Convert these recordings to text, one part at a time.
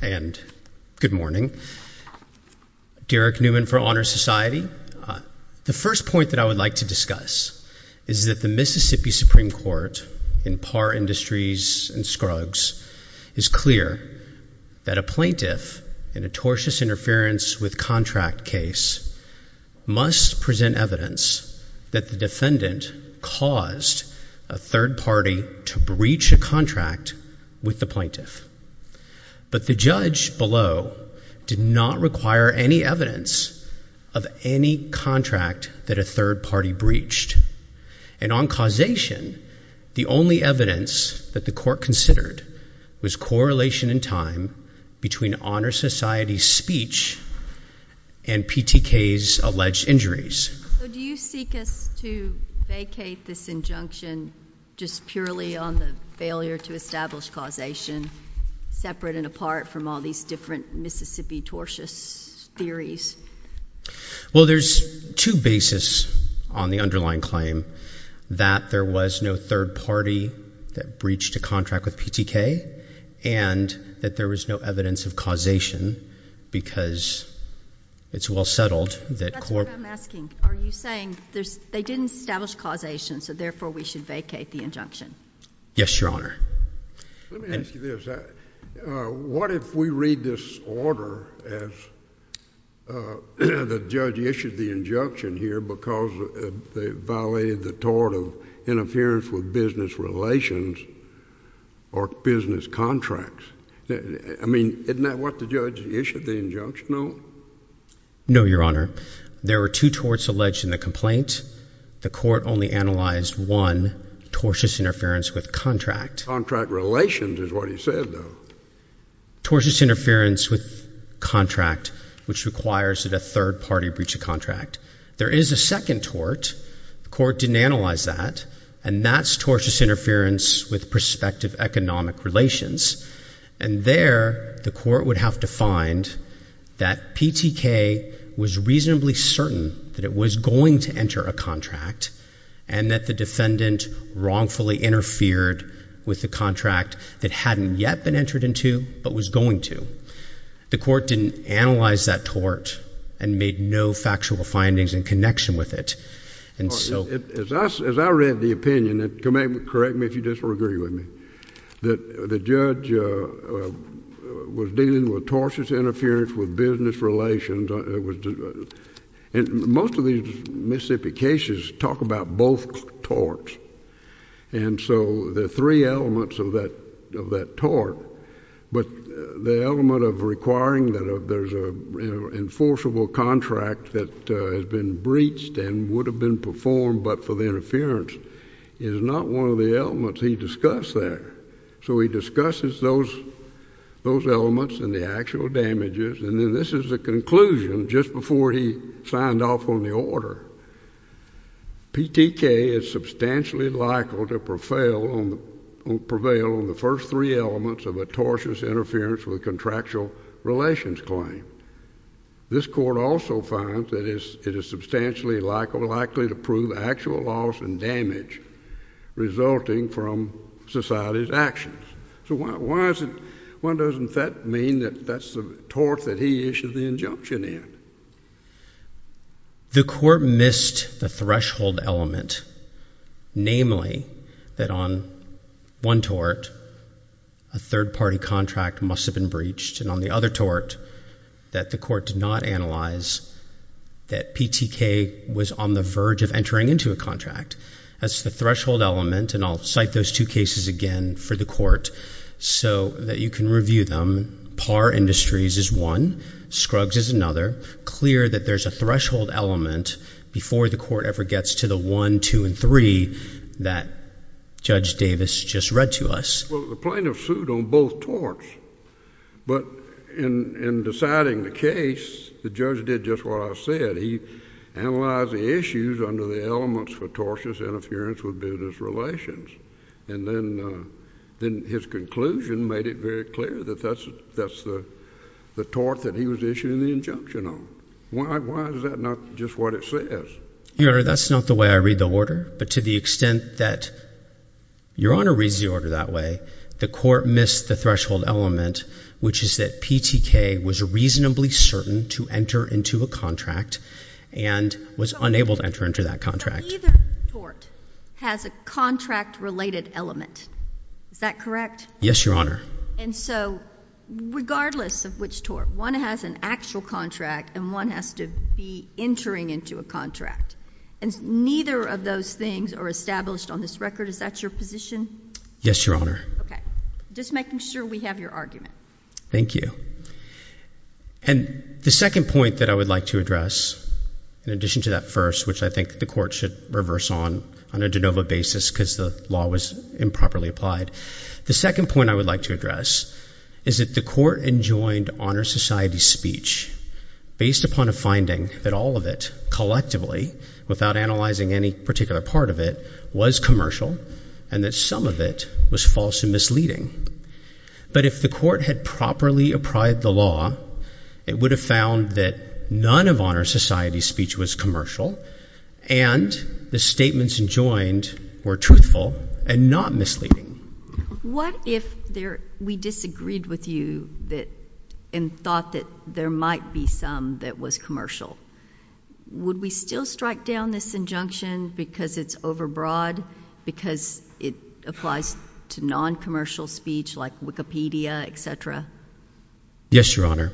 Good morning. Derek Newman for Honor Society. The first point that I would like to discuss is that the Mississippi Supreme Court in Parr Industries and Scruggs is clear that a plaintiff in a tortious interference with contract case must present evidence that the defendant caused a third party to breach a contract with the plaintiff. But the judge below did not require any evidence of any contract that a third party breached. And on causation, the only evidence that the court considered was correlation in time between Honor Society's speech and PTK's alleged injuries. Do you seek us to vacate this injunction just purely on the failure to establish causation, separate and apart from all these different Mississippi tortious theories? Well, there's two bases on the underlying claim, that there was no third party that breached a contract with PTK and that there was no evidence of causation because it's well settled that court. That's what I'm asking. Are you saying they didn't establish causation so therefore we should vacate the injunction? Yes, Your Honor. Let me ask you this, what if we read this order as the judge issued the injunction here because they violated the tort of interference with business relations or business contracts? I mean, isn't that what the judge issued the injunction on? No, Your Honor. There were two torts alleged in the complaint. The court only analyzed one, tortious interference with contract. Contract relations is what he said, though. Tortious interference with contract, which requires that a third party breach a contract. There is a second tort. The court didn't analyze that. And that's tortious interference with prospective economic relations. And there, the court would have to find that PTK was reasonably certain that it was going to enter a contract and that the defendant wrongfully interfered with the contract that hadn't yet been entered into but was going to. The court didn't analyze that tort and made no factual findings in connection with it. As I read the opinion, correct me if you disagree with me, that the judge was dealing with tortious interference with business relations. And most of these misrepresentations talk about both torts. And so there are three elements of that tort. But the element of requiring that there's an enforceable contract that has been breached and would have been performed but for the interference is not one of the elements he discussed there. So he discusses those elements and the actual damages. And then this is the conclusion just before he signed off on the order. PTK is substantially likely to prevail on the first three elements of a tortious interference with contractual relations claim. This court also finds that it is substantially likely to prove actual loss and damage resulting from society's actions. So why doesn't that mean that that's the tort that he issued the injunction in? The court missed the threshold element. Namely, that on one tort, a third party contract must have been breached. And on the other tort, that the court did not analyze that PTK was on the verge of entering into a contract. That's the threshold element and I'll cite those two cases again for the court so that you can review them. Parr Industries is one. Scruggs is another. Clear that there's a threshold element before the court ever gets to the one, two, and three that Judge Davis just read to us. Well, the plaintiff sued on both torts. But in deciding the case, the judge did just what I said. He analyzed the issues under the elements for tortious interference with business relations. And then his conclusion made it very clear that that's the tort that he was issuing the injunction on. Why is that not just what it says? Your Honor, that's not the way I read the order. But to the extent that Your Honor reads the order that way, the court missed the threshold element, which is that PTK was reasonably certain to enter into a contract and was unable to enter into that contract. But neither tort has a contract-related element. Is that correct? Yes, Your Honor. And so regardless of which tort, one has an actual contract and one has to be entering into a contract. And neither of those things are established on this record. Is that your position? Yes, Your Honor. Okay. Just making sure we have your argument. Thank you. And the second point that I would like to address, in addition to that first, which I think the court should reverse on a de novo basis because the law was improperly applied, the second point I would like to address is that the court enjoined Honor Society's speech based upon a finding that all of it, collectively, without analyzing any particular part of it, was commercial and that some of it was false and misleading. But if the court had properly applied the law, it would have found that none of Honor Society's speech was commercial and the statements enjoined were truthful and not misleading. What if we disagreed with you and thought that there might be some that was commercial? Would we still strike down this injunction because it's overbroad, because it applies to non-commercial speech like Wikipedia, etc.? Yes, Your Honor.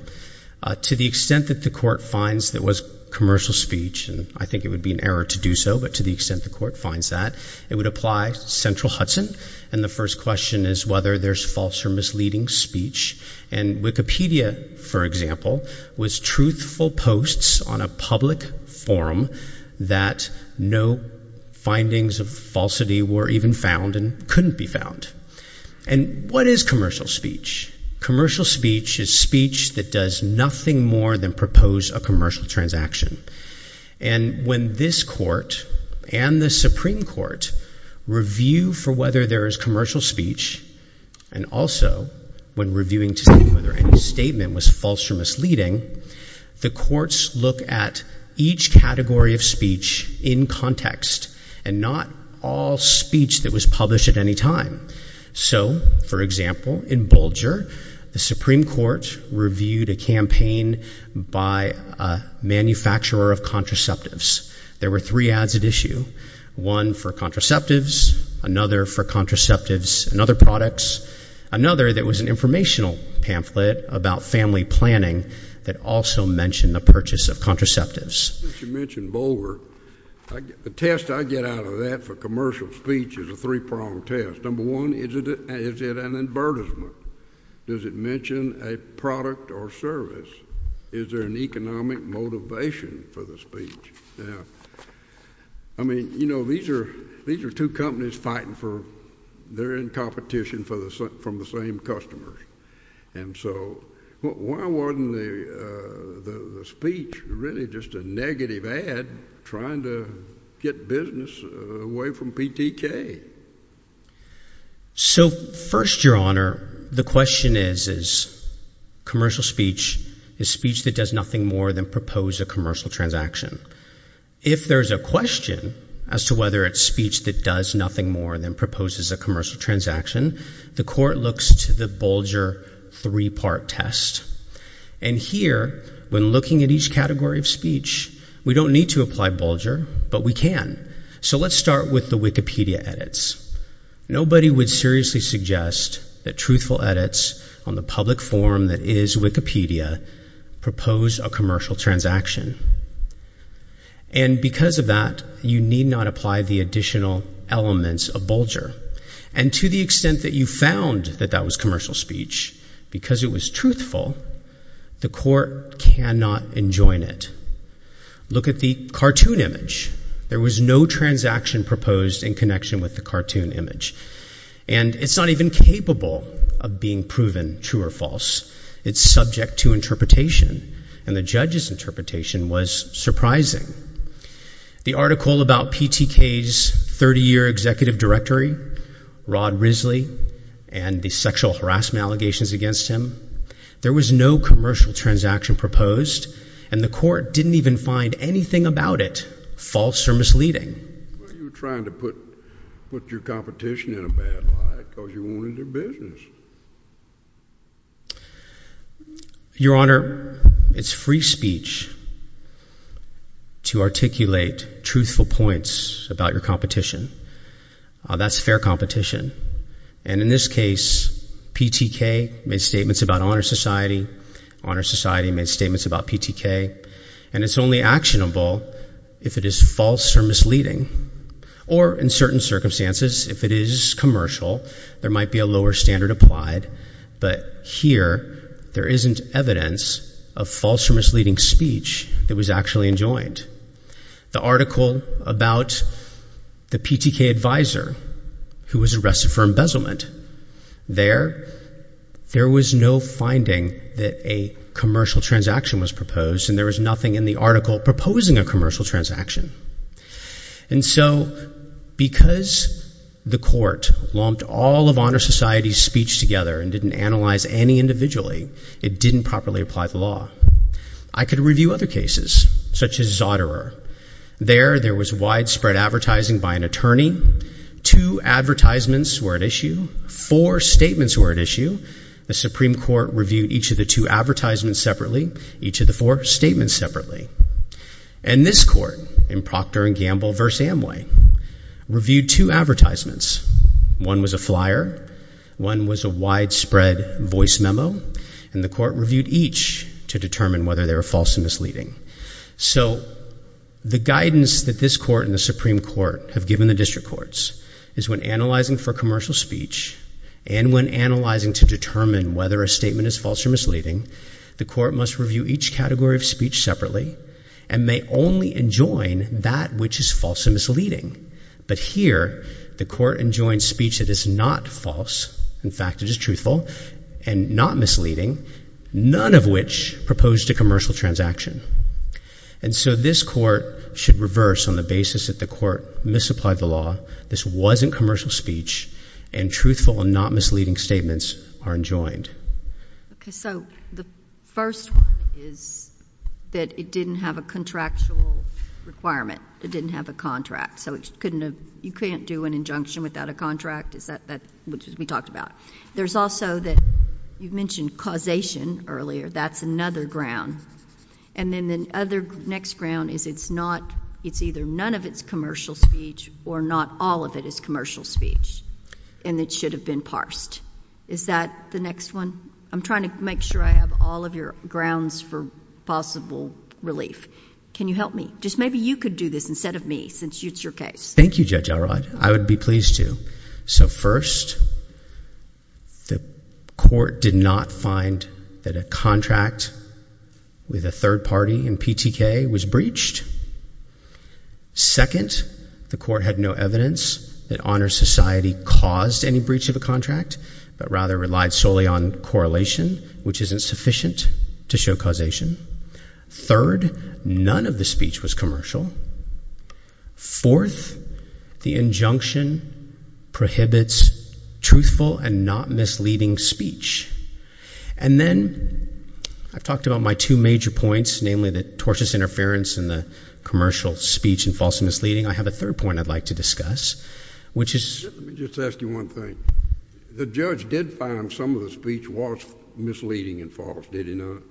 To the extent that the court finds that it was commercial speech, and I think it would be an error to do so, but to the extent the court finds that, it would apply to Central Hudson. And the first question is whether there's false or misleading speech. And Wikipedia, for example, was truthful posts on a public forum that no findings of falsity were even found and couldn't be found. And what is commercial speech? Commercial speech is speech that does nothing more than propose a commercial transaction. And when this court and the Supreme Court review for whether there is commercial speech, and also when reviewing to see whether any statement was false or misleading, the courts look at each category of speech in context and not all speech that was published at any time. So, for example, in Bulger, the Supreme Court reviewed a campaign by a manufacturer of contraceptives. There were three ads at issue, one for contraceptives, another for contraceptives and other products, another that was an informational pamphlet about family planning that also mentioned the purchase of contraceptives. You mentioned Bulger. The test I get out of that for commercial speech is a three-pronged test. Number one, is it an advertisement? Does it mention a product or service? Is there an economic motivation for the speech? I mean, you know, these are two companies fighting for—they're in competition from the same customers. And so, why wasn't the speech really just a negative ad trying to get business away from PTK? So first, Your Honor, the question is, is commercial speech, is speech that does nothing more than propose a commercial transaction? If there's a question as to whether it's speech that does nothing more than proposes a commercial transaction, the court looks to the Bulger three-part test. And here, when looking at each category of speech, we don't need to apply Bulger, but we can. So let's start with the Wikipedia edits. Nobody would seriously suggest that truthful edits on the public forum that is Wikipedia propose a commercial transaction. And because of that, you need not apply the additional elements of Bulger. And to the extent that you found that that was commercial speech, because it was truthful, the court cannot enjoin it. Look at the cartoon image. There was no transaction proposed in connection with the cartoon image. And it's not even capable of being proven true or false. It's subject to interpretation. And the judge's interpretation was surprising. The article about PTK's 30-year executive directory, Rod Risley, and the sexual harassment allegations against him, there was no commercial transaction proposed. And the court didn't even find anything about it false or misleading. Well, you're trying to put your competition in a bad light because you're ruining their business. Your Honor, it's free speech to articulate truthful points about your competition. That's fair competition. And in this case, PTK made statements about Honor Society. Honor Society made statements about PTK. And it's only actionable if it is false or misleading. Or in certain circumstances, if it is commercial, there might be a lower standard applied. But here, there isn't evidence of false or misleading speech that was actually enjoined. The article about the PTK advisor who was arrested for embezzlement, there was no finding that a commercial transaction was proposed. And there was nothing in the article proposing a commercial transaction. And so, because the court lumped all of Honor Society's speech together and didn't analyze any individually, it didn't properly apply the law. I could review other cases, such as Zotterer. There, there was widespread advertising by an attorney. Two advertisements were at issue. Four statements were at issue. The Supreme Court reviewed each of the two advertisements separately, each of the four statements separately. And this court, in Proctor and Gamble v. Amway, reviewed two advertisements. One was a flyer. One was a widespread voice memo. And the court reviewed each to determine whether they were false or misleading. So the guidance that this court and the Supreme Court have given the district courts is when analyzing for commercial speech, and when analyzing to determine whether a statement is false or misleading, the court must review each category of speech separately and may only enjoin that which is false and misleading. But here, the court enjoins speech that is not false, in fact it is truthful, and not misleading, none of which proposed a commercial transaction. And so this court should reverse on the basis that the court misapplied the law, this wasn't commercial speech, and truthful and not misleading statements are enjoined. Okay. So the first one is that it didn't have a contractual requirement. It didn't have a contract. So it couldn't have, you can't do an injunction without a contract. Is that that, which we talked about. There's also that, you mentioned causation earlier. That's another ground. And then the other, next ground is it's not, it's either none of it's commercial speech or not all of it is commercial speech. And it should have been parsed. Is that the next one? I'm trying to make sure I have all of your grounds for possible relief. Can you help me? Just maybe you could do this instead of me, since it's your case. Thank you Judge Elrod. I would be pleased to. So first, the court did not find that a contract with a third party in PTK was breached. Second, the court had no evidence that Honor Society caused any breach of a contract, but rather relied solely on correlation, which isn't sufficient to show causation. Third, none of the speech was commercial. Fourth, the injunction prohibits truthful and not misleading speech. And then, I've talked about my two major points, namely that tortious interference and the commercial speech and false and misleading. I have a third point I'd like to discuss, which is. Let me just ask you one thing. The judge did find some of the speech was misleading and false, did he not?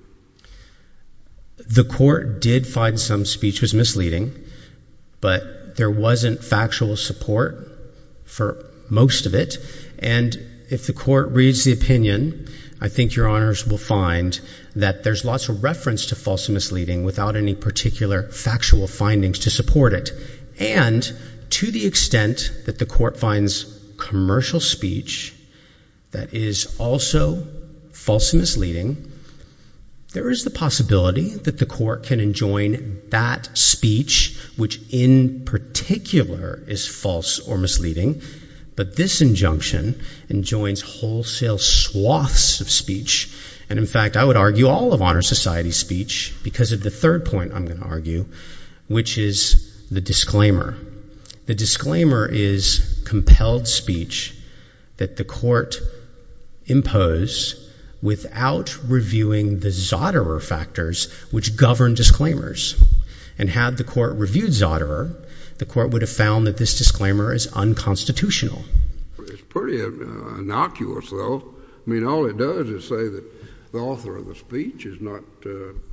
The court did find some speech was misleading, but there wasn't factual support for most of it. And if the court reads the opinion, I think your honors will find that there's lots of reference to false and misleading without any particular factual findings to support it. And to the extent that the court finds commercial speech that is also false and misleading, there is the possibility that the court can enjoin that speech, which in particular is false or misleading, but this injunction enjoins wholesale swaths of speech. And in fact, I would argue all of Honor Society's speech because of the third point I'm going to argue, which is the disclaimer. The disclaimer is compelled speech that the court impose without reviewing the Zoterer factors, which govern disclaimers. And had the court reviewed Zoterer, the court would have found that this disclaimer is unconstitutional. It's pretty innocuous though. I mean, all it does is say that the author of the speech is not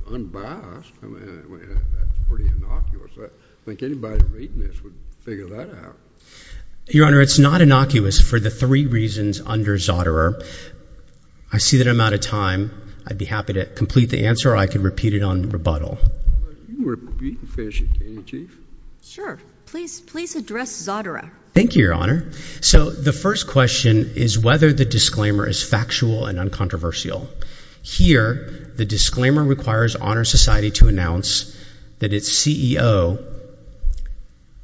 unbiased. I mean, that's pretty innocuous. I think anybody reading this would figure that out. Your Honor, it's not innocuous for the three reasons under Zoterer. I see that I'm out of time. I'd be happy to complete the answer or I can repeat it on rebuttal. You can finish it, can't you? Sure. Please address Zoterer. Thank you, Your Honor. So the first question is whether the disclaimer is factual and uncontroversial. Here, the disclaimer requires Honor Society to announce that its CEO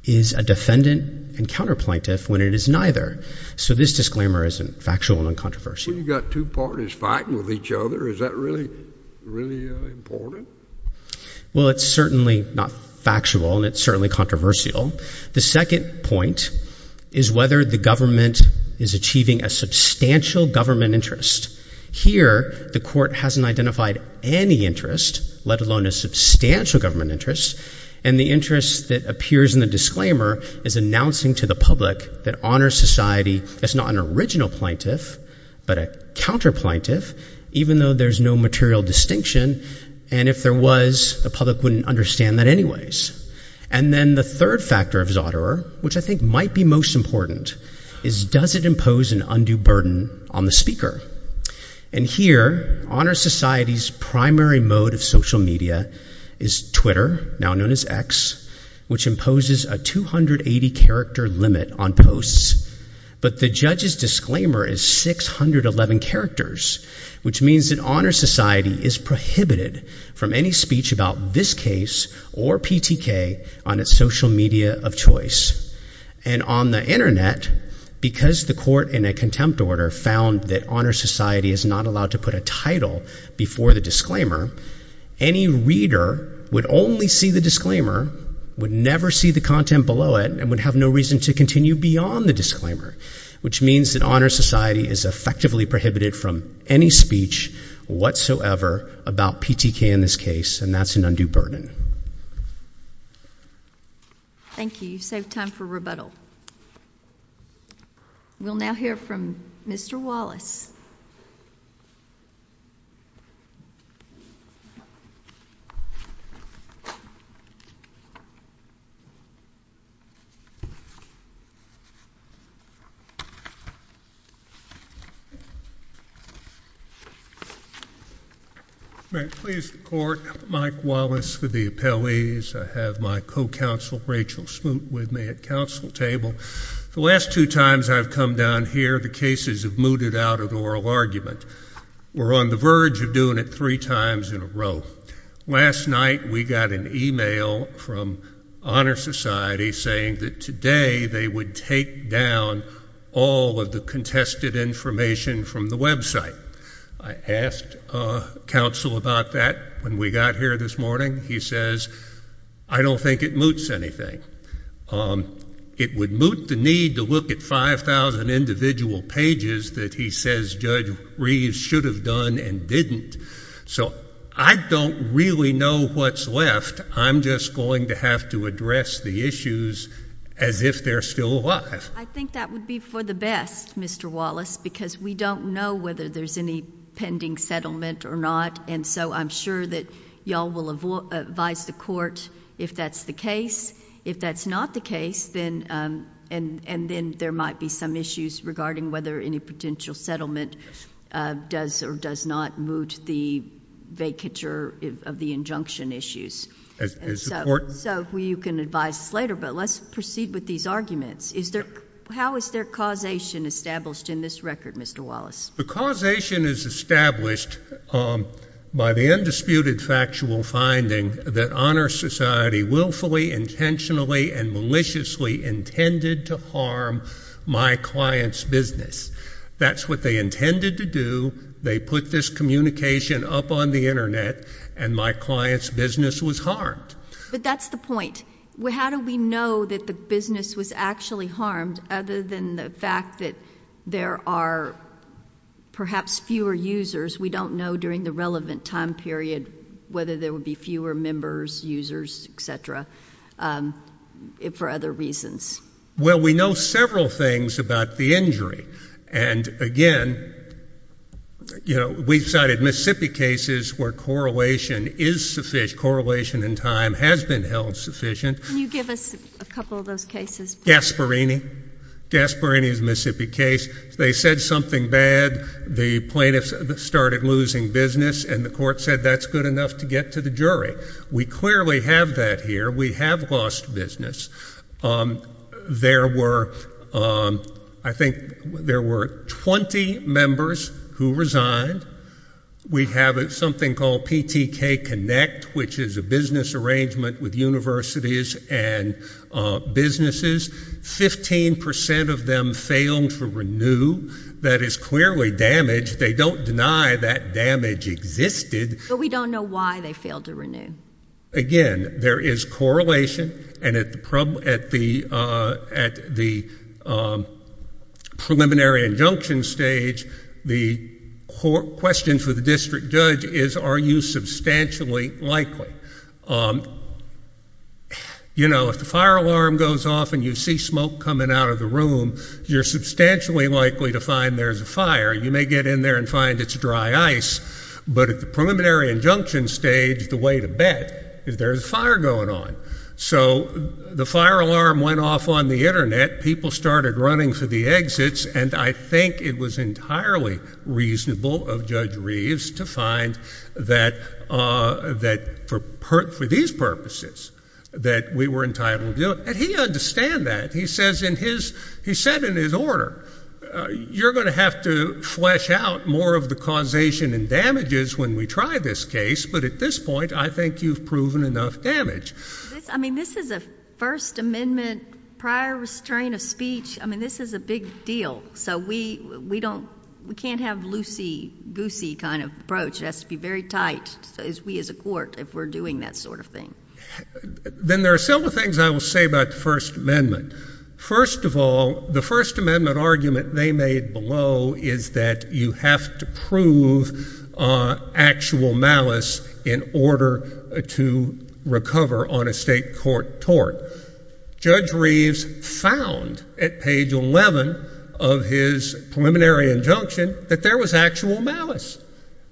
is a defendant and counterplaintiff when it is neither. So this disclaimer isn't factual and uncontroversial. You've got two parties fighting with each other. Is that really important? Well, it's certainly not factual and it's certainly controversial. The second point is whether the government is achieving a substantial government interest. Here, the court hasn't identified any interest, let alone a substantial government interest. And the interest that appears in the disclaimer is announcing to the public that Honor Society is not an original plaintiff, but a counterplaintiff, even though there's no material distinction. And if there was, the public wouldn't understand that anyways. And then the third factor of Zoterer, which I think might be most important, is does it impose an undue burden on the speaker? And here, Honor Society's primary mode of social media is Twitter, now known as X, which imposes a 280-character limit on posts. But the judge's disclaimer is 611 characters, which means that Honor Society is prohibited from any speech about this case or PTK on its social media of choice. And on the internet, because the court in a contempt order found that Honor Society is not allowed to put a title before the disclaimer, any reader would only see the disclaimer, would never see the content below it, and would have no reason to continue beyond the disclaimer, which means that Honor Society is effectively prohibited from any speech whatsoever about PTK in this case, and that's an undue burden. Thank you. You've saved time for rebuttal. We'll now hear from Mr. Wallace. May it please the court, Mike Wallace for the appellees. I have my co-counsel, Rachel Smoot, with me at council table. The last two times I've come down here, the cases have mooted out of oral argument. We're on the verge of doing it three times in a row. Last night, we got an email from Honor Society saying that today they would take down all of the contested information from the website. I asked counsel about that when we got here this morning. He says, I don't think it moots anything. It would moot the need to look at the 5,000 individual pages that he says Judge Reeves should have done and didn't. So I don't really know what's left. I'm just going to have to address the issues as if they're still alive. I think that would be for the best, Mr. Wallace, because we don't know whether there's any pending settlement or not, and so I'm sure that y'all will advise the court if that's the case. If that's not the case, and then there might be some issues regarding whether any potential settlement does or does not moot the vacature of the injunction issues. So you can advise us later, but let's proceed with these arguments. How is there causation established in this record, Mr. Wallace? The causation is established by the undisputed factual finding that Honor Society will follow intentionally and maliciously intended to harm my client's business. That's what they intended to do. They put this communication up on the Internet, and my client's business was harmed. But that's the point. How do we know that the business was actually harmed other than the fact that there are perhaps fewer users? We don't know during the relevant time period whether there would be fewer members, users, et cetera, for other reasons. Well, we know several things about the injury, and again, you know, we've cited Mississippi cases where correlation is sufficient. Correlation in time has been held sufficient. Can you give us a couple of those cases? Gasparini. Gasparini's Mississippi case. They said something bad. The plaintiffs started losing business, and the court said that's good enough to get to the jury. We clearly have that here. We have lost business. There were, I think, there were 20 members who resigned. We have something called PTK Connect, which is a business arrangement with universities and businesses. Fifteen percent of them failed to renew. That is clearly damage. They don't deny that damage existed. But we don't know why they failed to renew. Again, there is correlation, and at the preliminary injunction stage, the question for the district judge is are you substantially likely. You know, if the fire alarm goes off and you see smoke coming out of the room, you're substantially likely to find there's a fire. You may get in there and find it's dry ice, but at the preliminary injunction stage, the way to bet is there's a fire going on. So the fire alarm went off on the Internet. People started running for the exits, and I think it was entirely reasonable of Judge Reeves to find that for these purposes that we were entitled to. And he understood that. He said in his order, you're going to have to flesh out more of the causation and damages when we try this case, but at this point, I think you've proven enough damage. I mean, this is a First Amendment prior restrain of speech. I mean, this is a big deal. So we don't, we can't have loosey-goosey kind of approach. It has to be very tight, as we as a court, if we're doing that sort of thing. Then there are several things I will say about the First Amendment. First of all, the First Amendment argument they made below is that you have to prove actual malice in order to recover on a state court tort. Judge Reeves found at page 11 of his preliminary injunction that there was actual malice.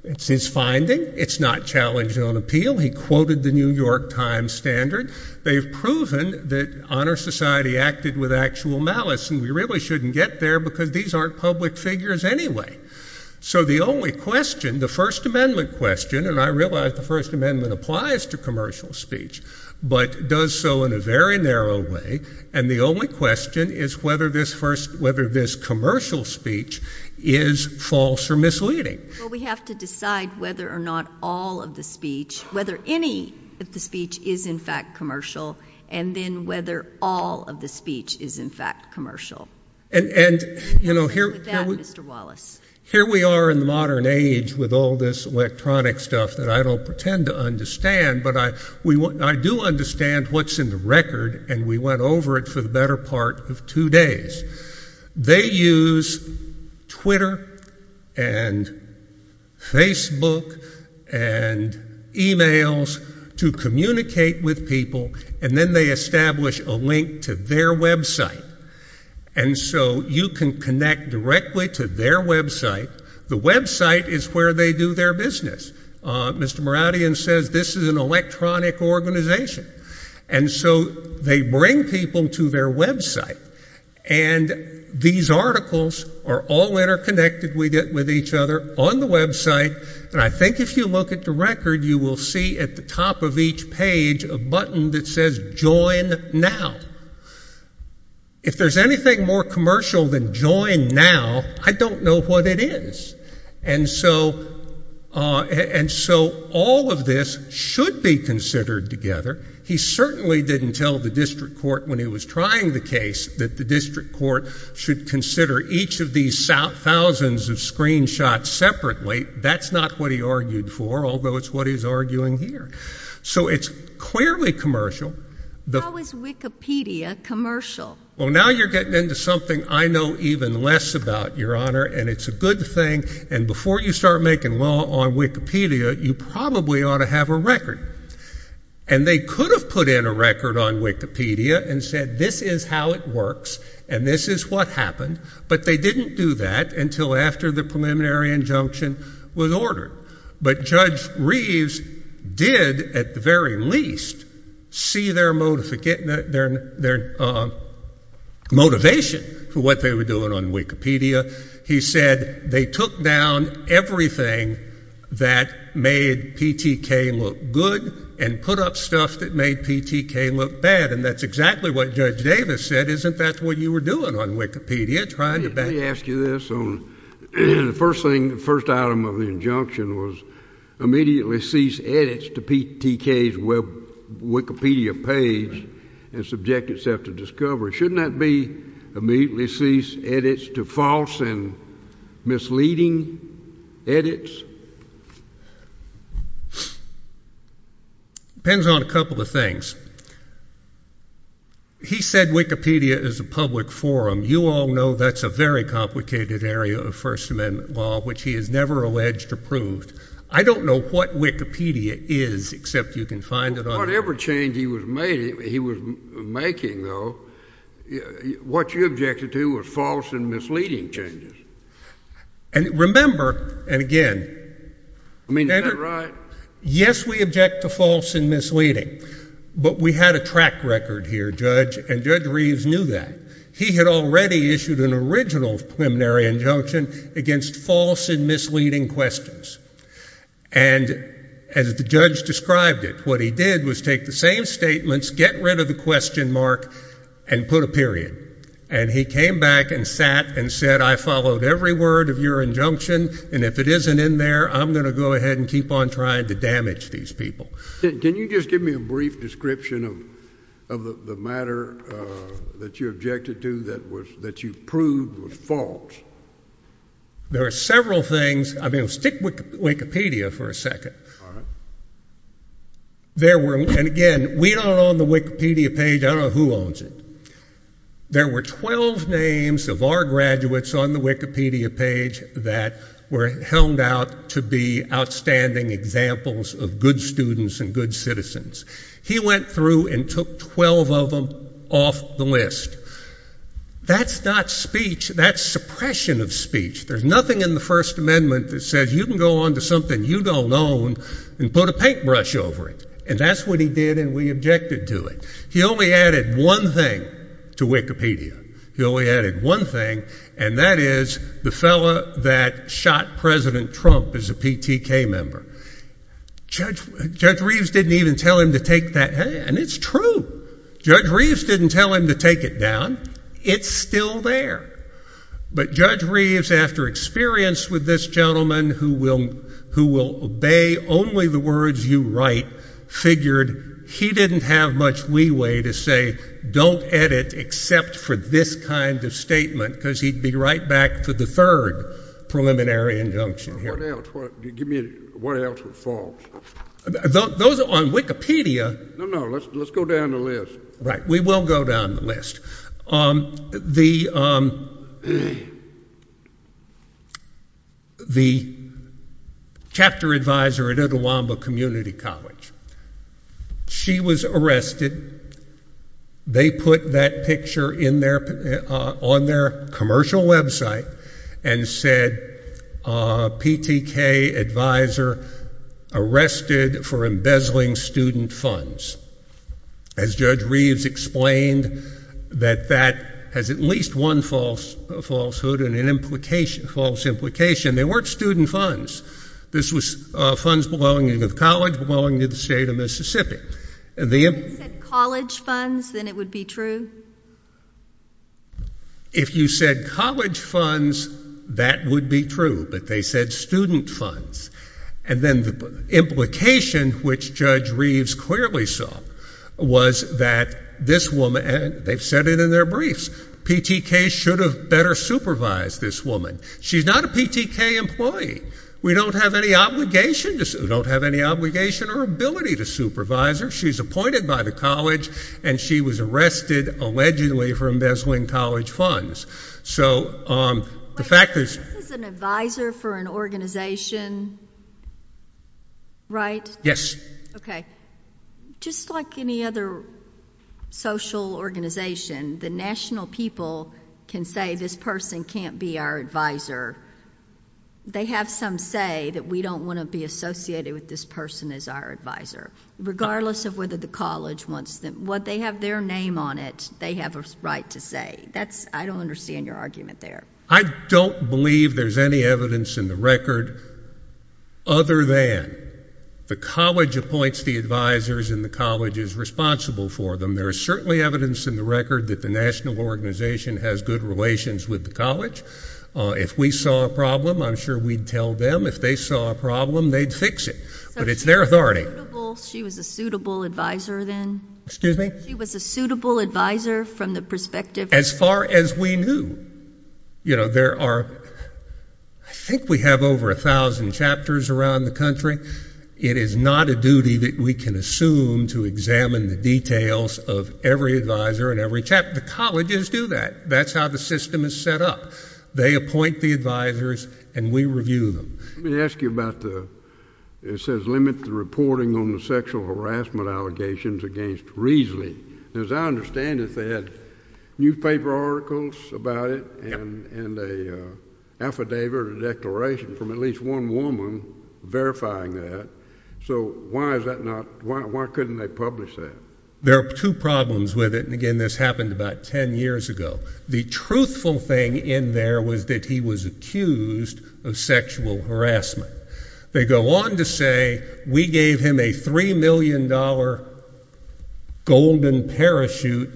It's his finding. It's not challenged on appeal. He quoted the New York Times standard. They've proven that honor society acted with actual malice, and we really shouldn't get there because these aren't public figures anyway. So the only question, the First Amendment question, and I realize the First Amendment applies to commercial speech, but does so in a very narrow way, and the only question is whether this commercial speech is false or misleading. Well, we have to decide whether or not all of the speech, whether any of the speech is in fact commercial, and then whether all of the speech is in fact commercial. Here we are in the modern age with all this electronic stuff that I don't pretend to understand, but I do understand what's in the record, and we went over it for the better part of two days. They use Twitter and Facebook and e-mails to communicate with each other, and with people, and then they establish a link to their website, and so you can connect directly to their website. The website is where they do their business. Mr. Moradian says this is an electronic organization, and so they bring people to their website, and these articles are all interconnected with each other on the website, and I think if you look at the record, you will see at the top of each page a button that says join now. If there's anything more commercial than join now, I don't know what it is, and so all of this should be considered together. He certainly didn't tell the district court when he was trying the case that the district court should consider each of these thousands of screenshots separately. That's not what he argued for, although it's what he's arguing here. So it's clearly commercial. How is Wikipedia commercial? Well, now you're getting into something I know even less about, Your Honor, and it's a good thing, and before you start making law on Wikipedia, you probably ought to have a record, and they could have put in a record on Wikipedia and said this is how it works, and this is what happened, but they didn't do that until after the preliminary injunction was ordered, but Judge Reeves did at the very least see their motivation for what they were doing on Wikipedia. He said they took down everything that made PTK look good and put up stuff that made PTK look bad, and that's exactly what Judge Davis said, isn't that what you were doing on Wikipedia? Let me ask you this. The first item of the injunction was immediately cease edits to PTK's Wikipedia page and subject itself to discovery. Shouldn't that be immediately cease edits to false and misleading edits? Depends on a couple of things. He said Wikipedia is a public forum. You all know that's a very complicated area of First Amendment law, which he has never alleged or proved. I don't know what Wikipedia is, except you can find it on the Internet. Whatever change he was making, though, what you objected to was false and misleading changes. And remember, and again, I mean, is that right? Yes, we object to false and misleading, but we had a track record here, Judge, and Judge Reeves knew that. He had already issued an original preliminary injunction against false and misleading questions, and as the judge described it, what he did was take the same statements, get rid of the question mark, and put a period, and he came back and sat and said, I followed every word of your injunction, and if it isn't in there, I'm going to go ahead and keep on trying to damage these people. Can you just give me a brief description of the matter that you objected to that you proved was false? There are several things. I mean, stick with Wikipedia for a second. There were, and again, we don't own the Wikipedia page. I don't know who owns it. There were 12 names of our graduates on the Wikipedia page that were helmed out to be outstanding examples of good students and good citizens. He went through and took 12 of them off the list. That's not speech. That's suppression of speech. There's nothing in the First Amendment that says you can go on to something you don't own and put a paintbrush over it, and that's what he did and we objected to it. He only added one thing to Wikipedia. He only added one thing, and that is the fellow that shot President Trump as a PTK member. Judge Reeves didn't even tell him to take that down, and it's true. Judge Reeves didn't tell him to take it down. It's still there. But Judge Reeves, after experience with this gentleman who will obey only the words you write, figured he didn't have much leeway to say, don't edit except for this kind of statement, because he'd be right back for the third preliminary injunction here. What else? Give me a minute. What else was false? Those on Wikipedia... No, no. Let's go down the list. We will go down the list. The chapter advisor at Attawamba Community College, she was arrested. They put that picture on their commercial website and said, PTK advisor arrested for falsehoods. Judge Reeves explained that that has at least one falsehood and an implication. They weren't student funds. This was funds belonging to the college, belonging to the state of Mississippi. If it said college funds, then it would be true? If you said college funds, that would be true, but they said student funds. And then the implication, which Judge Reeves clearly saw, was that this woman, and they've said it in their briefs, PTK should have better supervised this woman. She's not a PTK employee. We don't have any obligation or ability to supervise her. She's appointed by the college, and she was arrested, allegedly, for embezzling college funds. This is an advisor for an organization, right? Yes. Okay. Just like any other social organization, the national people can say this person can't be our advisor. They have some say that we don't want to be associated with this person as our advisor, regardless of whether the college wants them. What they have their name on it, they have a right to say. I don't understand your argument there. I don't believe there's any evidence in the record other than the college appoints the advisors and the college is responsible for them. There is certainly evidence in the record that the national organization has good relations with the college. If we saw a problem, I'm sure we'd tell them. If they saw a problem, they'd fix it, but it's their authority. She was a suitable advisor then? Excuse me? She was a suitable advisor from the perspective? As far as we knew. You know, there are, I think we have over a thousand chapters around the country. It is not a duty that we can assume to examine the details of every advisor and every chapter. The colleges do that. That's how the system is set up. They appoint the advisors and we review them. Let me ask you about the, it says limit the reporting on the sexual harassment allegations against Reesley. As I understand it, they had newspaper articles about it and an affidavit or declaration from at least one woman verifying that. So why is that not, why couldn't they publish that? There are two problems with it, and again this happened about ten years ago. The truthful thing in there was that he was accused of sexual harassment. They go on to say we gave him a $3 million golden parachute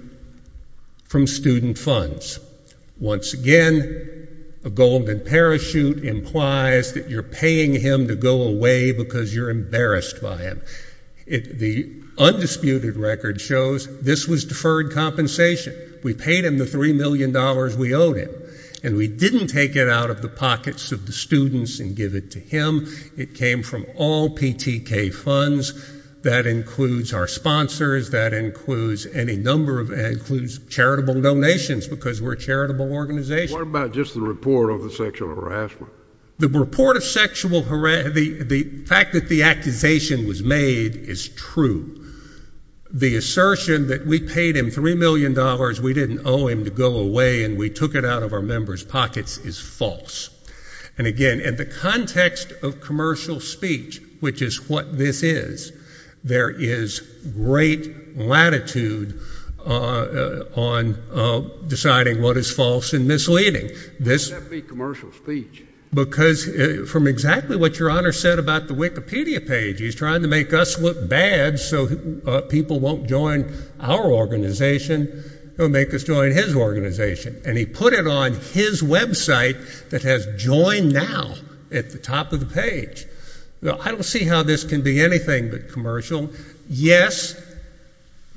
from student funds. Once again, a golden parachute implies that you're paying him to go away because you're embarrassed by him. The undisputed record shows this was deferred compensation. We paid him the $3 million we owed him, and we didn't take it out of the pockets of the students and give it to him. It came from all PTK funds. That includes our sponsors, that includes any number of, that includes charitable donations because we're a charitable organization. What about just the report of the sexual harassment? The report of sexual, the fact that the accusation was made is true. The assertion that we paid him $3 million, we didn't owe him to go away and we took it out of our members' pockets is false. And again, in the context of commercial speech, which is what this is, there is great latitude on deciding what is false and misleading. This would not be commercial speech. Because from exactly what your Honor said about the Wikipedia page, he's trying to make us look bad so people won't join our organization, he'll make us join his organization. And he put it on his website that has joined now at the top of the page. I don't see how this can be anything but commercial. Yes,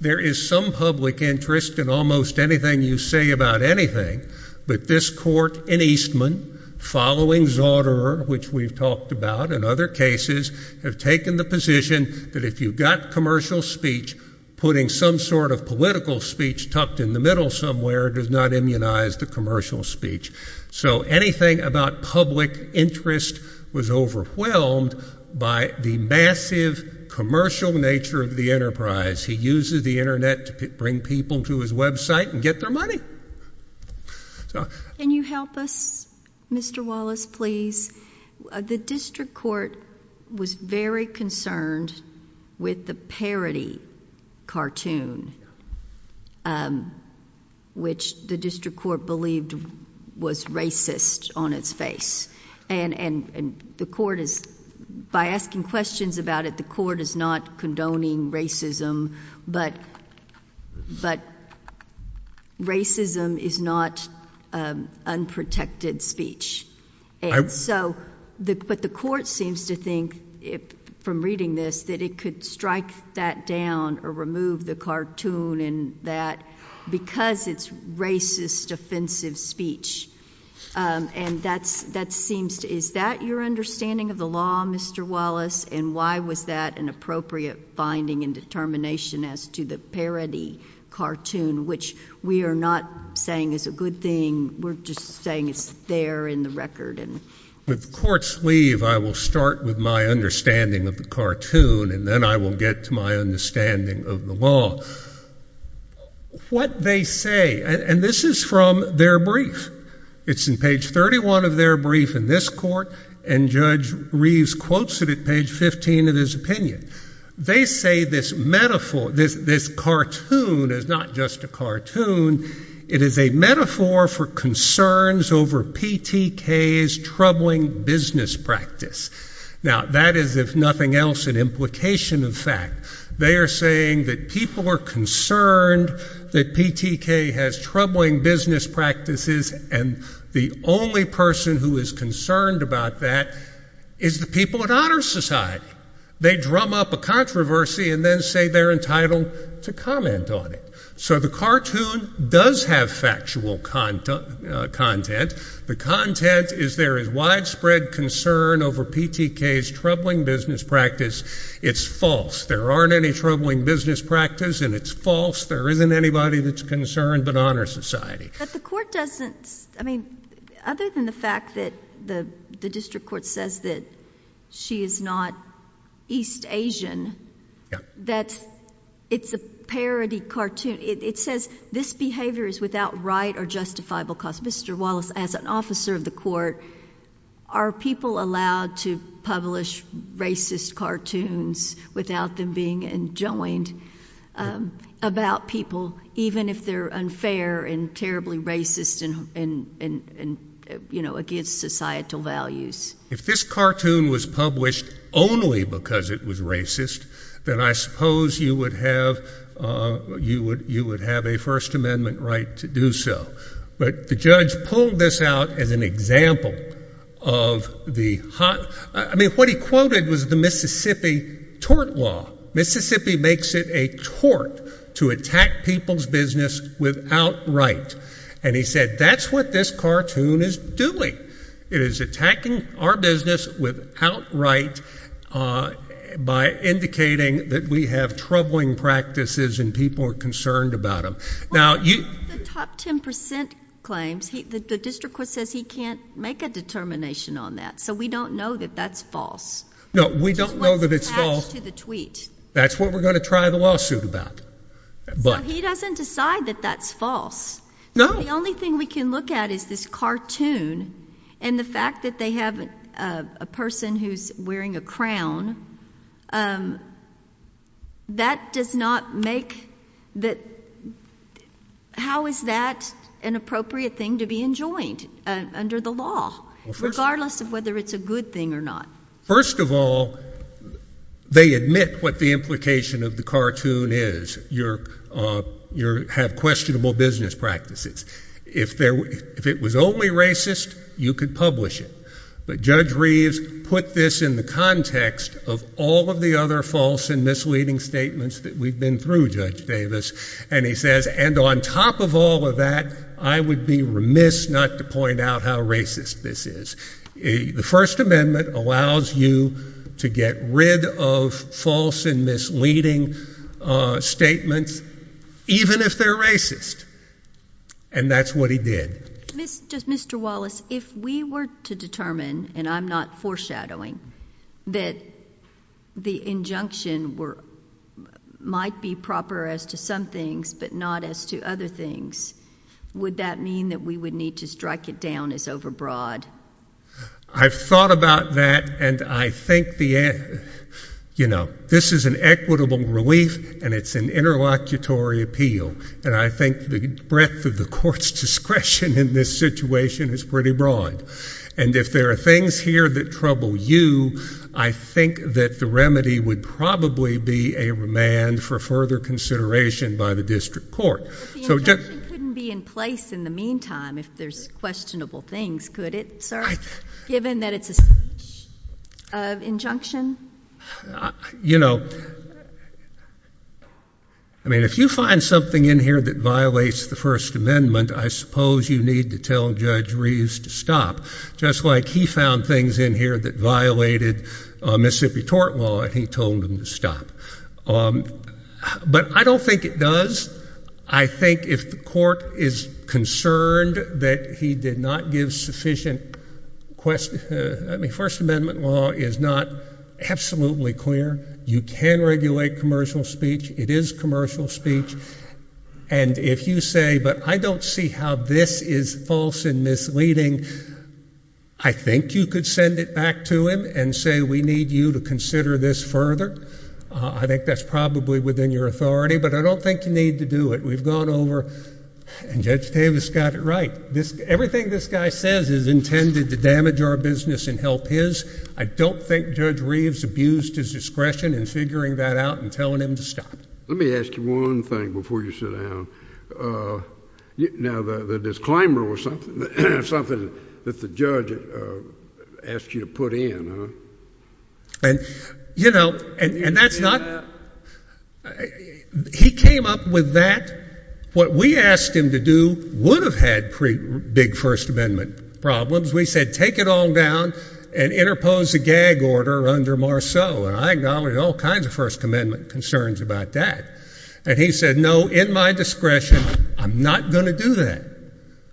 there is some public interest in almost anything you say about anything, but this court in Eastman, following Zauderer, which we've talked about in other cases, have taken the position that if you've got commercial speech, putting some sort of political speech tucked in the middle somewhere does not immunize the commercial speech. So anything about public interest was overwhelmed by the massive commercial nature of the enterprise. He uses the internet to bring people to his website and get their money. Can you help us, Mr. Wallace, please? The district court was very concerned with the parody cartoon, which the district court believed was racist on its face. And the court is, by asking questions about it, the court is not condoning racism, but racism is not unprotected speech. But the court seems to think, from reading this, that it could strike something down or remove the cartoon because it's racist, offensive speech. Is that your understanding of the law, Mr. Wallace? And why was that an appropriate finding and determination as to the parody cartoon, which we are not saying is a good thing. We're just saying it's there in the record. When the courts leave, I will start with my understanding of the cartoon, and then I will get to my understanding of the law. What they say, and this is from their brief. It's in page 31 of their brief in this court, and Judge Reeves quotes it at page 15 of his opinion. They say this metaphor, this cartoon is not just a cartoon. It is a metaphor for concerns over PTK's troubling business practice. Now, that is, if nothing else, an implication of fact. They are saying that people are concerned that PTK has troubling business practices, and the only person who is concerned about that is the people at Honor Society. They drum up a controversy and then say they're entitled to comment on it. So the cartoon does have factual content. The content is there is widespread concern over PTK's troubling business practice. It's false. There aren't any troubling business practice and it's false. There isn't anybody that's concerned but Honor Society. But the court doesn't, I mean, other than the fact that the district court says that she is not East Asian, that it's a parody cartoon. It says this behavior is without right or justifiable cause. Mr. Wallace, as an officer of the court, are people allowed to publish racist cartoons without them being enjoined about people, even if they're unfair and terribly racist and, you know, against societal values? If this cartoon was published only because it was racist, then I suppose you would have a First Amendment right to do so. But the judge pulled this out as an example of the hot, I mean, what he quoted was the Mississippi tort law. Mississippi makes it a tort to attack people's business without right. And he said that's what this cartoon is doing. It is attacking our business without right by indicating that we have troubling practices and people are concerned about them. Well, the top 10% claims, the district court says he can't make a determination on that. So we don't know that that's false. No, we don't know that it's false. That's what we're going to try the lawsuit about. So he doesn't decide that that's false. No. The only thing we can look at is this cartoon and the fact that they have a person who's wearing a crown, that does not make that, how is that an appropriate thing to be enjoined under the law, regardless of whether it's a good thing or not? First of all, they admit what the implication of the cartoon is. You have questionable business practices. If it was only racist, you could publish it. But Judge Reeves put this in the context of all of the other false and misleading statements that we've been through, Judge Reeves pointed out how racist this is. The First Amendment allows you to get rid of false and misleading statements, even if they're racist. And that's what he did. Mr. Wallace, if we were to determine, and I'm not foreshadowing, that the injunction might be proper as to some things, but not as to other things, would that mean that we would need to strike it down as overbroad? I've thought about that, and I think, you know, this is an equitable relief, and it's an interlocutory appeal. And I think the breadth of the court's discretion in this situation is pretty broad. And if there are things here that trouble you, I think that the remedy would probably be a remand for further consideration by the district court. But the injunction couldn't be in place in the meantime if there's questionable things, could it, sir, given that it's a speech of injunction? You know, I mean, if you find something in here that violates the First Amendment, I suppose you need to tell Judge Reeves to stop, just like he found things in here that violated Mississippi tort law, and he told them to stop. But I don't think it does. I think if the court is concerned that he did not give sufficient question, I mean, First Amendment law is not absolutely clear. You can regulate commercial speech. It is commercial speech. And if you say, but I don't see how this is false and misleading, I think you could send it back to him and say, we need you to consider this further. I think that's probably within your authority. But I don't think you need to do it. We've gone over, and Judge Davis got it right. Everything this guy says is intended to damage our business and help his. I don't think Judge Reeves abused his discretion in figuring that out and telling him to stop. Let me ask you one thing before you sit down. Now, the disclaimer was something that the court needed to put in, huh? And, you know, and that's not, he came up with that. What we asked him to do would have had big First Amendment problems. We said, take it all down and interpose a gag order under Marceau, and I acknowledged all kinds of First Amendment concerns about that. And he said, no, in my discretion, I'm not going to do that,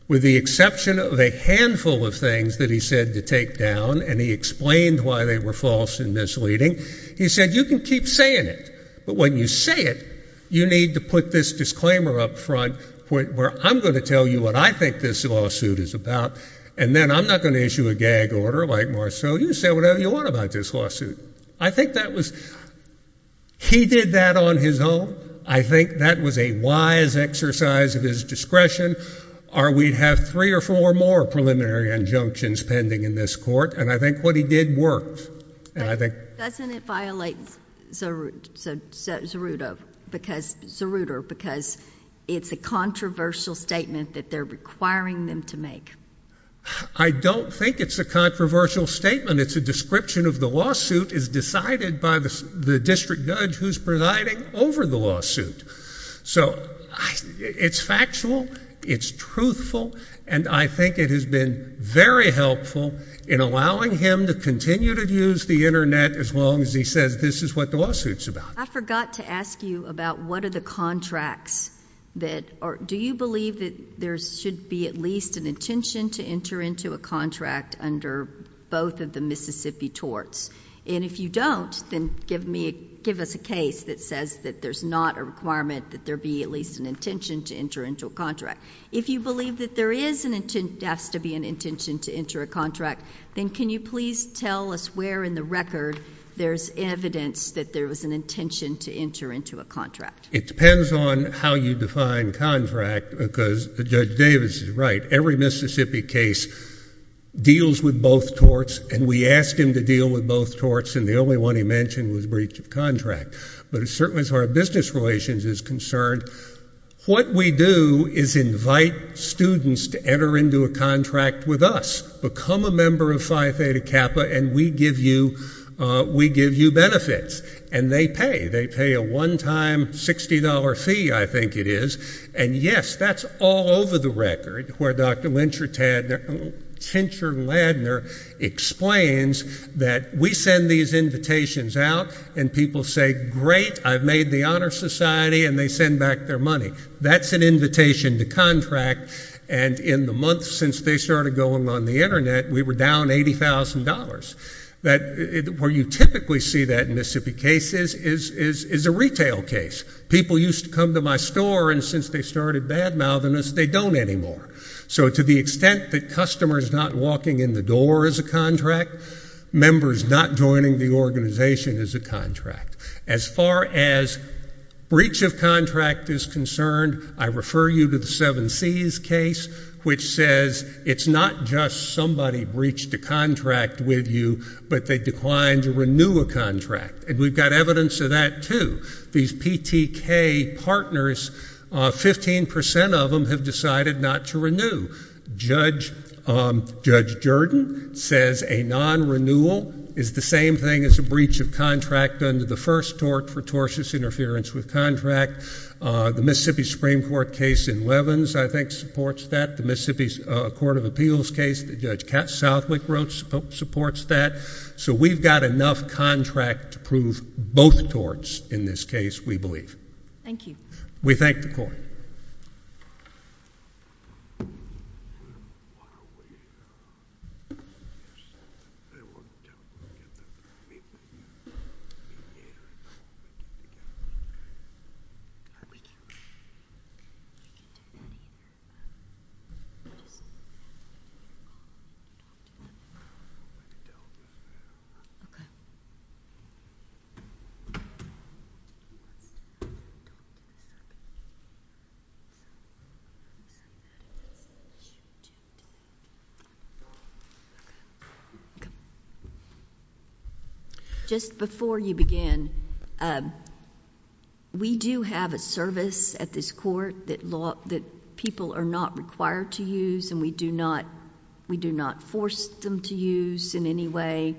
with the exception of a handful of things that he said to take down, and he explained why they were false and misleading. He said, you can keep saying it, but when you say it, you need to put this disclaimer up front, where I'm going to tell you what I think this lawsuit is about, and then I'm not going to issue a gag order like Marceau. You say whatever you want about this lawsuit. I think that was, he did that on his own. I think that was a wise exercise of his discretion, or we'd have three or four more preliminary injunctions pending in this court, and I think what he did worked, and I think... But doesn't it violate Zeruto, because, Zeruto, because it's a controversial statement that they're requiring them to make? I don't think it's a controversial statement. It's a description of the lawsuit is decided by the district judge who's presiding over the lawsuit. So, it's factual, it's truthful, and I think it has been very helpful in allowing him to continue to use the Internet as long as he says this is what the lawsuit's about. I forgot to ask you about what are the contracts that are... do you believe that there should be at least an intention to enter into a contract under both of the Mississippi torts? And if you don't, then give me a... give us a case that says that there's not a requirement that there be at least an intention to enter into a contract. If you believe that there is an... has to be an intention to enter a contract, then can you please tell us where in the record there's evidence that there was an intention to enter into a contract? It depends on how you define contract, because Judge Davis is right. Every Mississippi case deals with both torts, and we asked him to deal with both torts, and the only one he mentioned was breach of contract. But as far as business relations is concerned, what we do is invite students to enter into a contract with us. Become a member of Phi Theta Kappa, and we give you benefits. And they pay. They pay a one-time $60 fee, I think it is, and yes, that's all over the record, where Dr. Lyncher Tadner... Tincher Ladner explains that we send these invitations out, and people say, great, I've made the Honor Society, and they send back their money. That's an invitation to contract, and in the months since they started going on the Internet, we were down $80,000. That... where you typically see that in Mississippi cases is a retail case. People used to come to my store, and since they started bad-mouthing us, they don't anymore. So to the extent that customers not walking in the door is a contract, members not joining the organization is a contract. As far as breach of contract is concerned, I refer you to the Seven Seas case, which says it's not just somebody breached a contract with you, but they declined to renew a contract. And we've got evidence of that, too. These PTK partners, 15 percent of them have decided not to renew. Judge Jordan says a non-renewal is the same thing as a breach of contract under the first tort for tortious interference with contract. The Mississippi Supreme Court case in Levins, I think, supports that. The Mississippi Court of Appeals case that Judge Jordan is referring to is a non-renewal, and it's a breach of contract under the first tortious interference with contract. Just before you begin, we do have a service at this court that people are not required to use, and we do not force them to use in any way,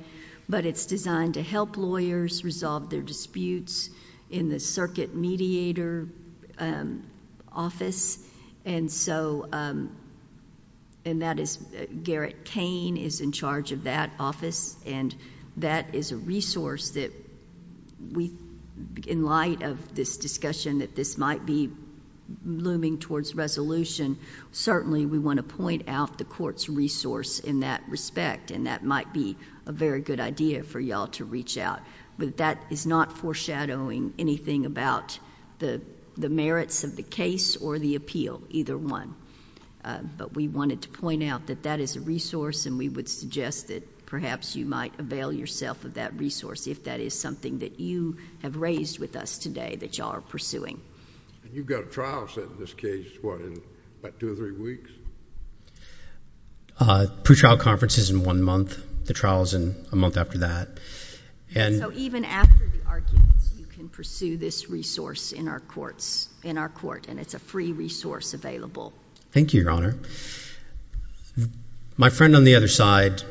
but it's designed to help lawyers resolve their disputes in the circuit mediator office, and that is Garrett Kane is in charge of that office, and that is a resource that we, in light of this discussion that this might be looming towards resolution, certainly we want to point out the court's resource in that respect, and that might be a very good idea for you all to reach out, but that is not foreshadowing anything about the merits of the case or the appeal, either one, but we wanted to point out that that is a resource, and we would suggest that perhaps you might avail yourself of that resource if that is something that you have raised with us today that you all are pursuing. And you've got a trial set in this case, what, in about two or three weeks? Pre-trial conference is in one month. The trial is in a month after that, and— So even after the arguments, you can pursue this resource in our court, and it's a free resource available. Thank you, Your Honor. My friend on the other side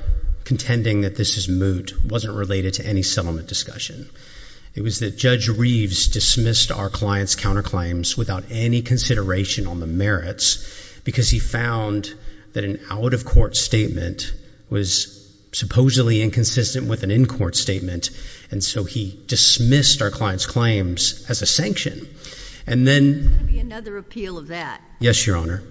contending that this is moot wasn't related to any settlement discussion. It was that Judge Reeves dismissed our client's counterclaims without any consideration on the merits because he found that an out-of-court statement was supposedly inconsistent with an in-court statement, and so he dismissed our client's claims as a sanction. And then— There's going to be another appeal of that. Yes, Your Honor.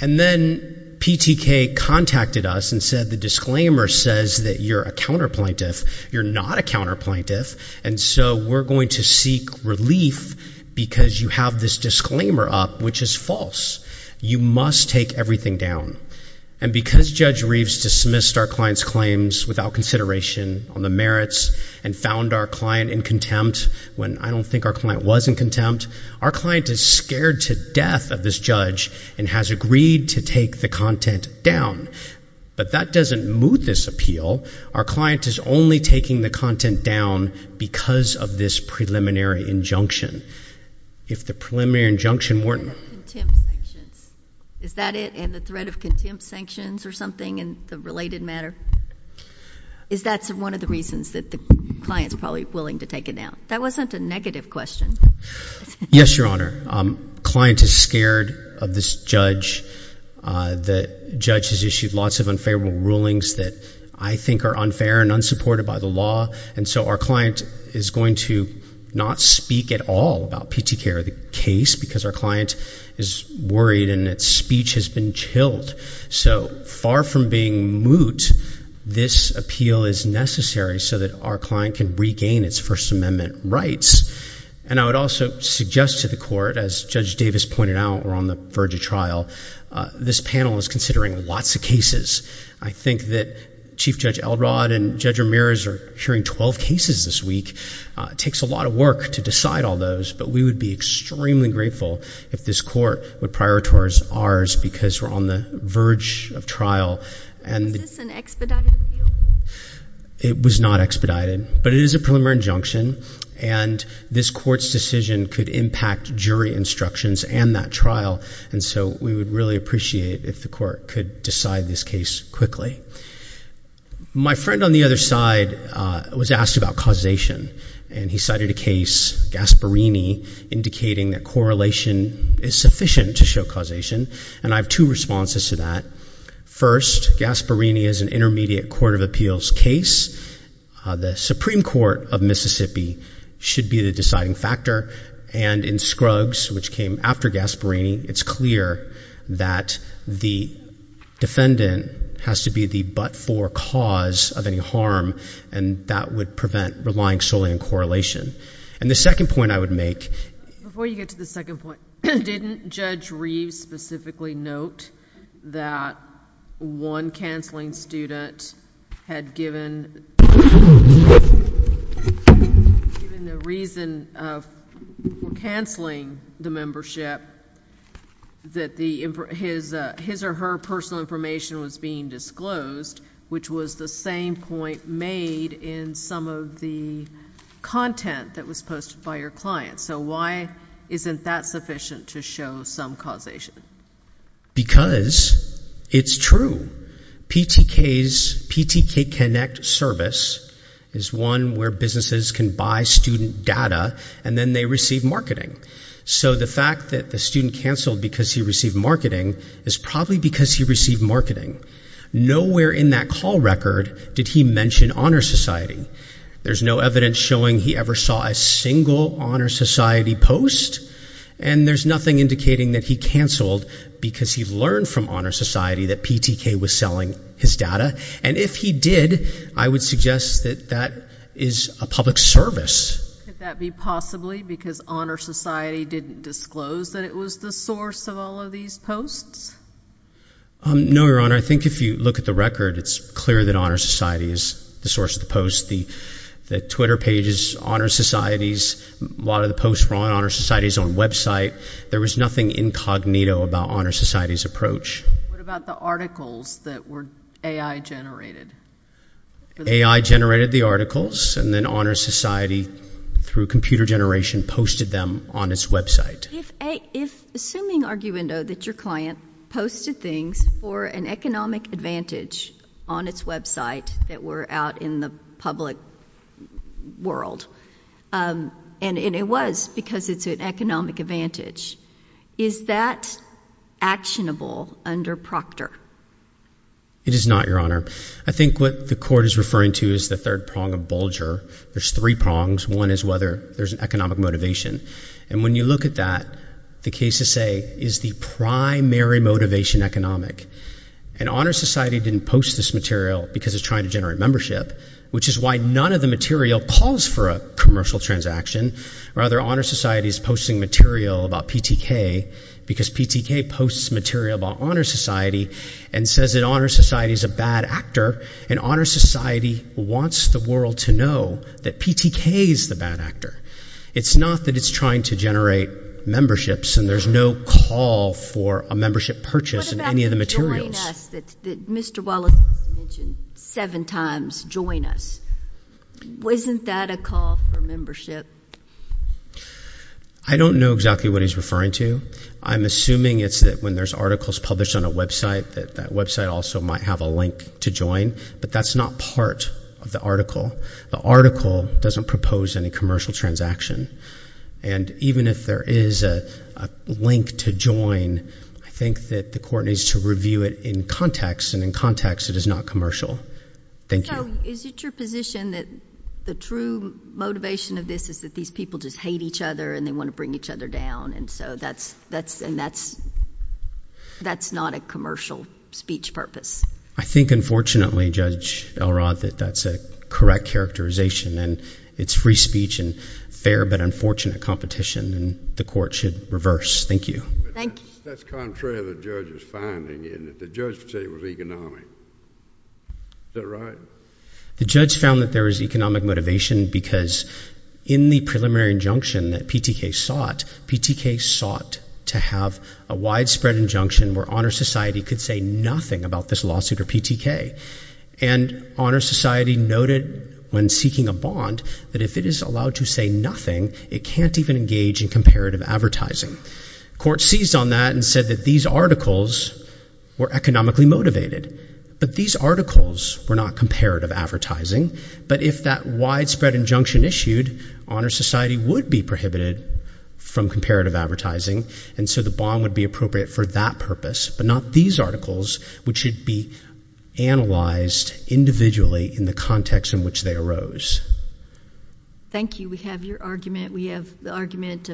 And then PTK contacted us and said, the disclaimer says that you're a counterplaintiff. You're not a counterplaintiff, and so we're going to seek relief because you have this disclaimer up, which is false. You must take everything down. And because Judge Reeves dismissed our client's claims without consideration on the merits and found our client in contempt, when I don't think our client was in contempt, our client is scared to death of this judge and has agreed to take the content down. But that doesn't moot this appeal. Our client is only taking the content down because of this preliminary injunction. If the preliminary injunction weren't— Threat of contempt sanctions. Is that it? And the threat of contempt sanctions or something in the related matter? Is that one of the reasons that the client's probably willing to take it down? That wasn't a negative question. Yes, Your Honor. The client is scared of this judge. The judge has issued lots of unfavorable rulings that I think are unfair and unsupported by the law. And so our client is going to not speak at all about PTK or the case because our client is worried and its speech has been chilled. So far from being moot, this appeal is necessary so that our client can regain its First Amendment rights. And I would also suggest to the Court, as Judge Davis pointed out, we're on the verge of trial. This panel is considering lots of cases. I think that Chief Judge Elrod and Judge Ramirez are hearing 12 cases this week. It takes a lot of work to decide all those, but we would be extremely grateful if this Court would prioritize ours because we're on the verge of trial. Was this an expedited appeal? It was not expedited, but it is a preliminary injunction and this Court's decision could impact jury instructions and that trial. And so we would really appreciate if the Court could decide this case quickly. My friend on the other side was asked about causation and he cited a case, Gasparini, indicating that correlation is sufficient to show causation. And I have two responses to that. First, Gasparini is an intermediate court of appeals case. The Supreme Court of Mississippi should be the deciding factor. And in Scruggs, which came after Gasparini, it's clear that the defendant has to be the but-for cause of any harm and that would prevent relying solely on correlation. And the second point I would specifically note, that one canceling student had given the reason for canceling the membership that his or her personal information was being disclosed, which was the same point made in some of the content that was posted by your client. So why isn't that sufficient to show some causation? Because it's true. PTK's PTK Connect service is one where businesses can buy student data and then they receive marketing. So the fact that the student canceled because he received marketing is probably because he received marketing. Nowhere in that call record did he mention Honor Society. There's no evidence showing he ever saw a he canceled because he learned from Honor Society that PTK was selling his data. And if he did, I would suggest that that is a public service. Could that be possibly because Honor Society didn't disclose that it was the source of all of these posts? No, Your Honor. I think if you look at the record, it's clear that Honor Society is the source of the posts. The Twitter pages, Honor Society's, a lot of the posts were on Honor Society's own website. There was nothing incognito about Honor Society's approach. What about the articles that were AI generated? AI generated the articles and then Honor Society, through computer generation, posted them on its website. If assuming arguendo that your client posted things for an economic advantage on its website that were out in the public world, and it was because it's an economic advantage, is that actionable under Proctor? It is not, Your Honor. I think what the Court is referring to is the third prong of Bulger. There's three prongs. One is whether there's an economic motivation. And when you look at that, the cases say, is the primary motivation economic? And Honor Society didn't post this material because it's trying to generate membership, which is why none of the material calls for a commercial transaction. Rather, Honor Society's posting material about PTK because PTK posts material about Honor Society and says that Honor Society's a bad actor, and Honor Society wants the world to know that PTK is the bad actor. It's not that it's trying to generate memberships and there's no call for a membership purchase in any of the materials. You mentioned seven times, join us. Wasn't that a call for membership? I don't know exactly what he's referring to. I'm assuming it's that when there's articles published on a website, that that website also might have a link to join, but that's not part of the article. The article doesn't propose any commercial transaction. And even if there is a link to join, I think that the court needs to review it in context, and in context it is not commercial. Thank you. Is it your position that the true motivation of this is that these people just hate each other and they want to bring each other down, and so that's not a commercial speech purpose? I think, unfortunately, Judge Elrod, that that's a correct characterization, and it's free speech and fair but unfortunate competition, and the court should reverse. Thank you. That's contrary to the judge's finding, isn't it? The judge would say it was economic. Is that right? The judge found that there was economic motivation because in the preliminary injunction that PTK sought, PTK sought to have a widespread injunction where Honor Society could say nothing about this lawsuit or PTK, and Honor Society noted when seeking a bond that if it is allowed to say nothing, it can't even engage in comparative advertising. The court seized on that and said that these articles were economically motivated, but these articles were not comparative advertising, but if that widespread injunction issued, Honor Society would be prohibited from comparative advertising, and so the bond would be appropriate for that purpose, but not these articles, which should be analyzed individually in the context in which they Thank you. We have your argument. We have the argument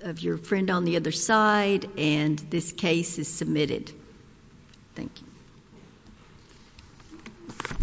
of your friend on the other side, and this case is submitted. Thank you.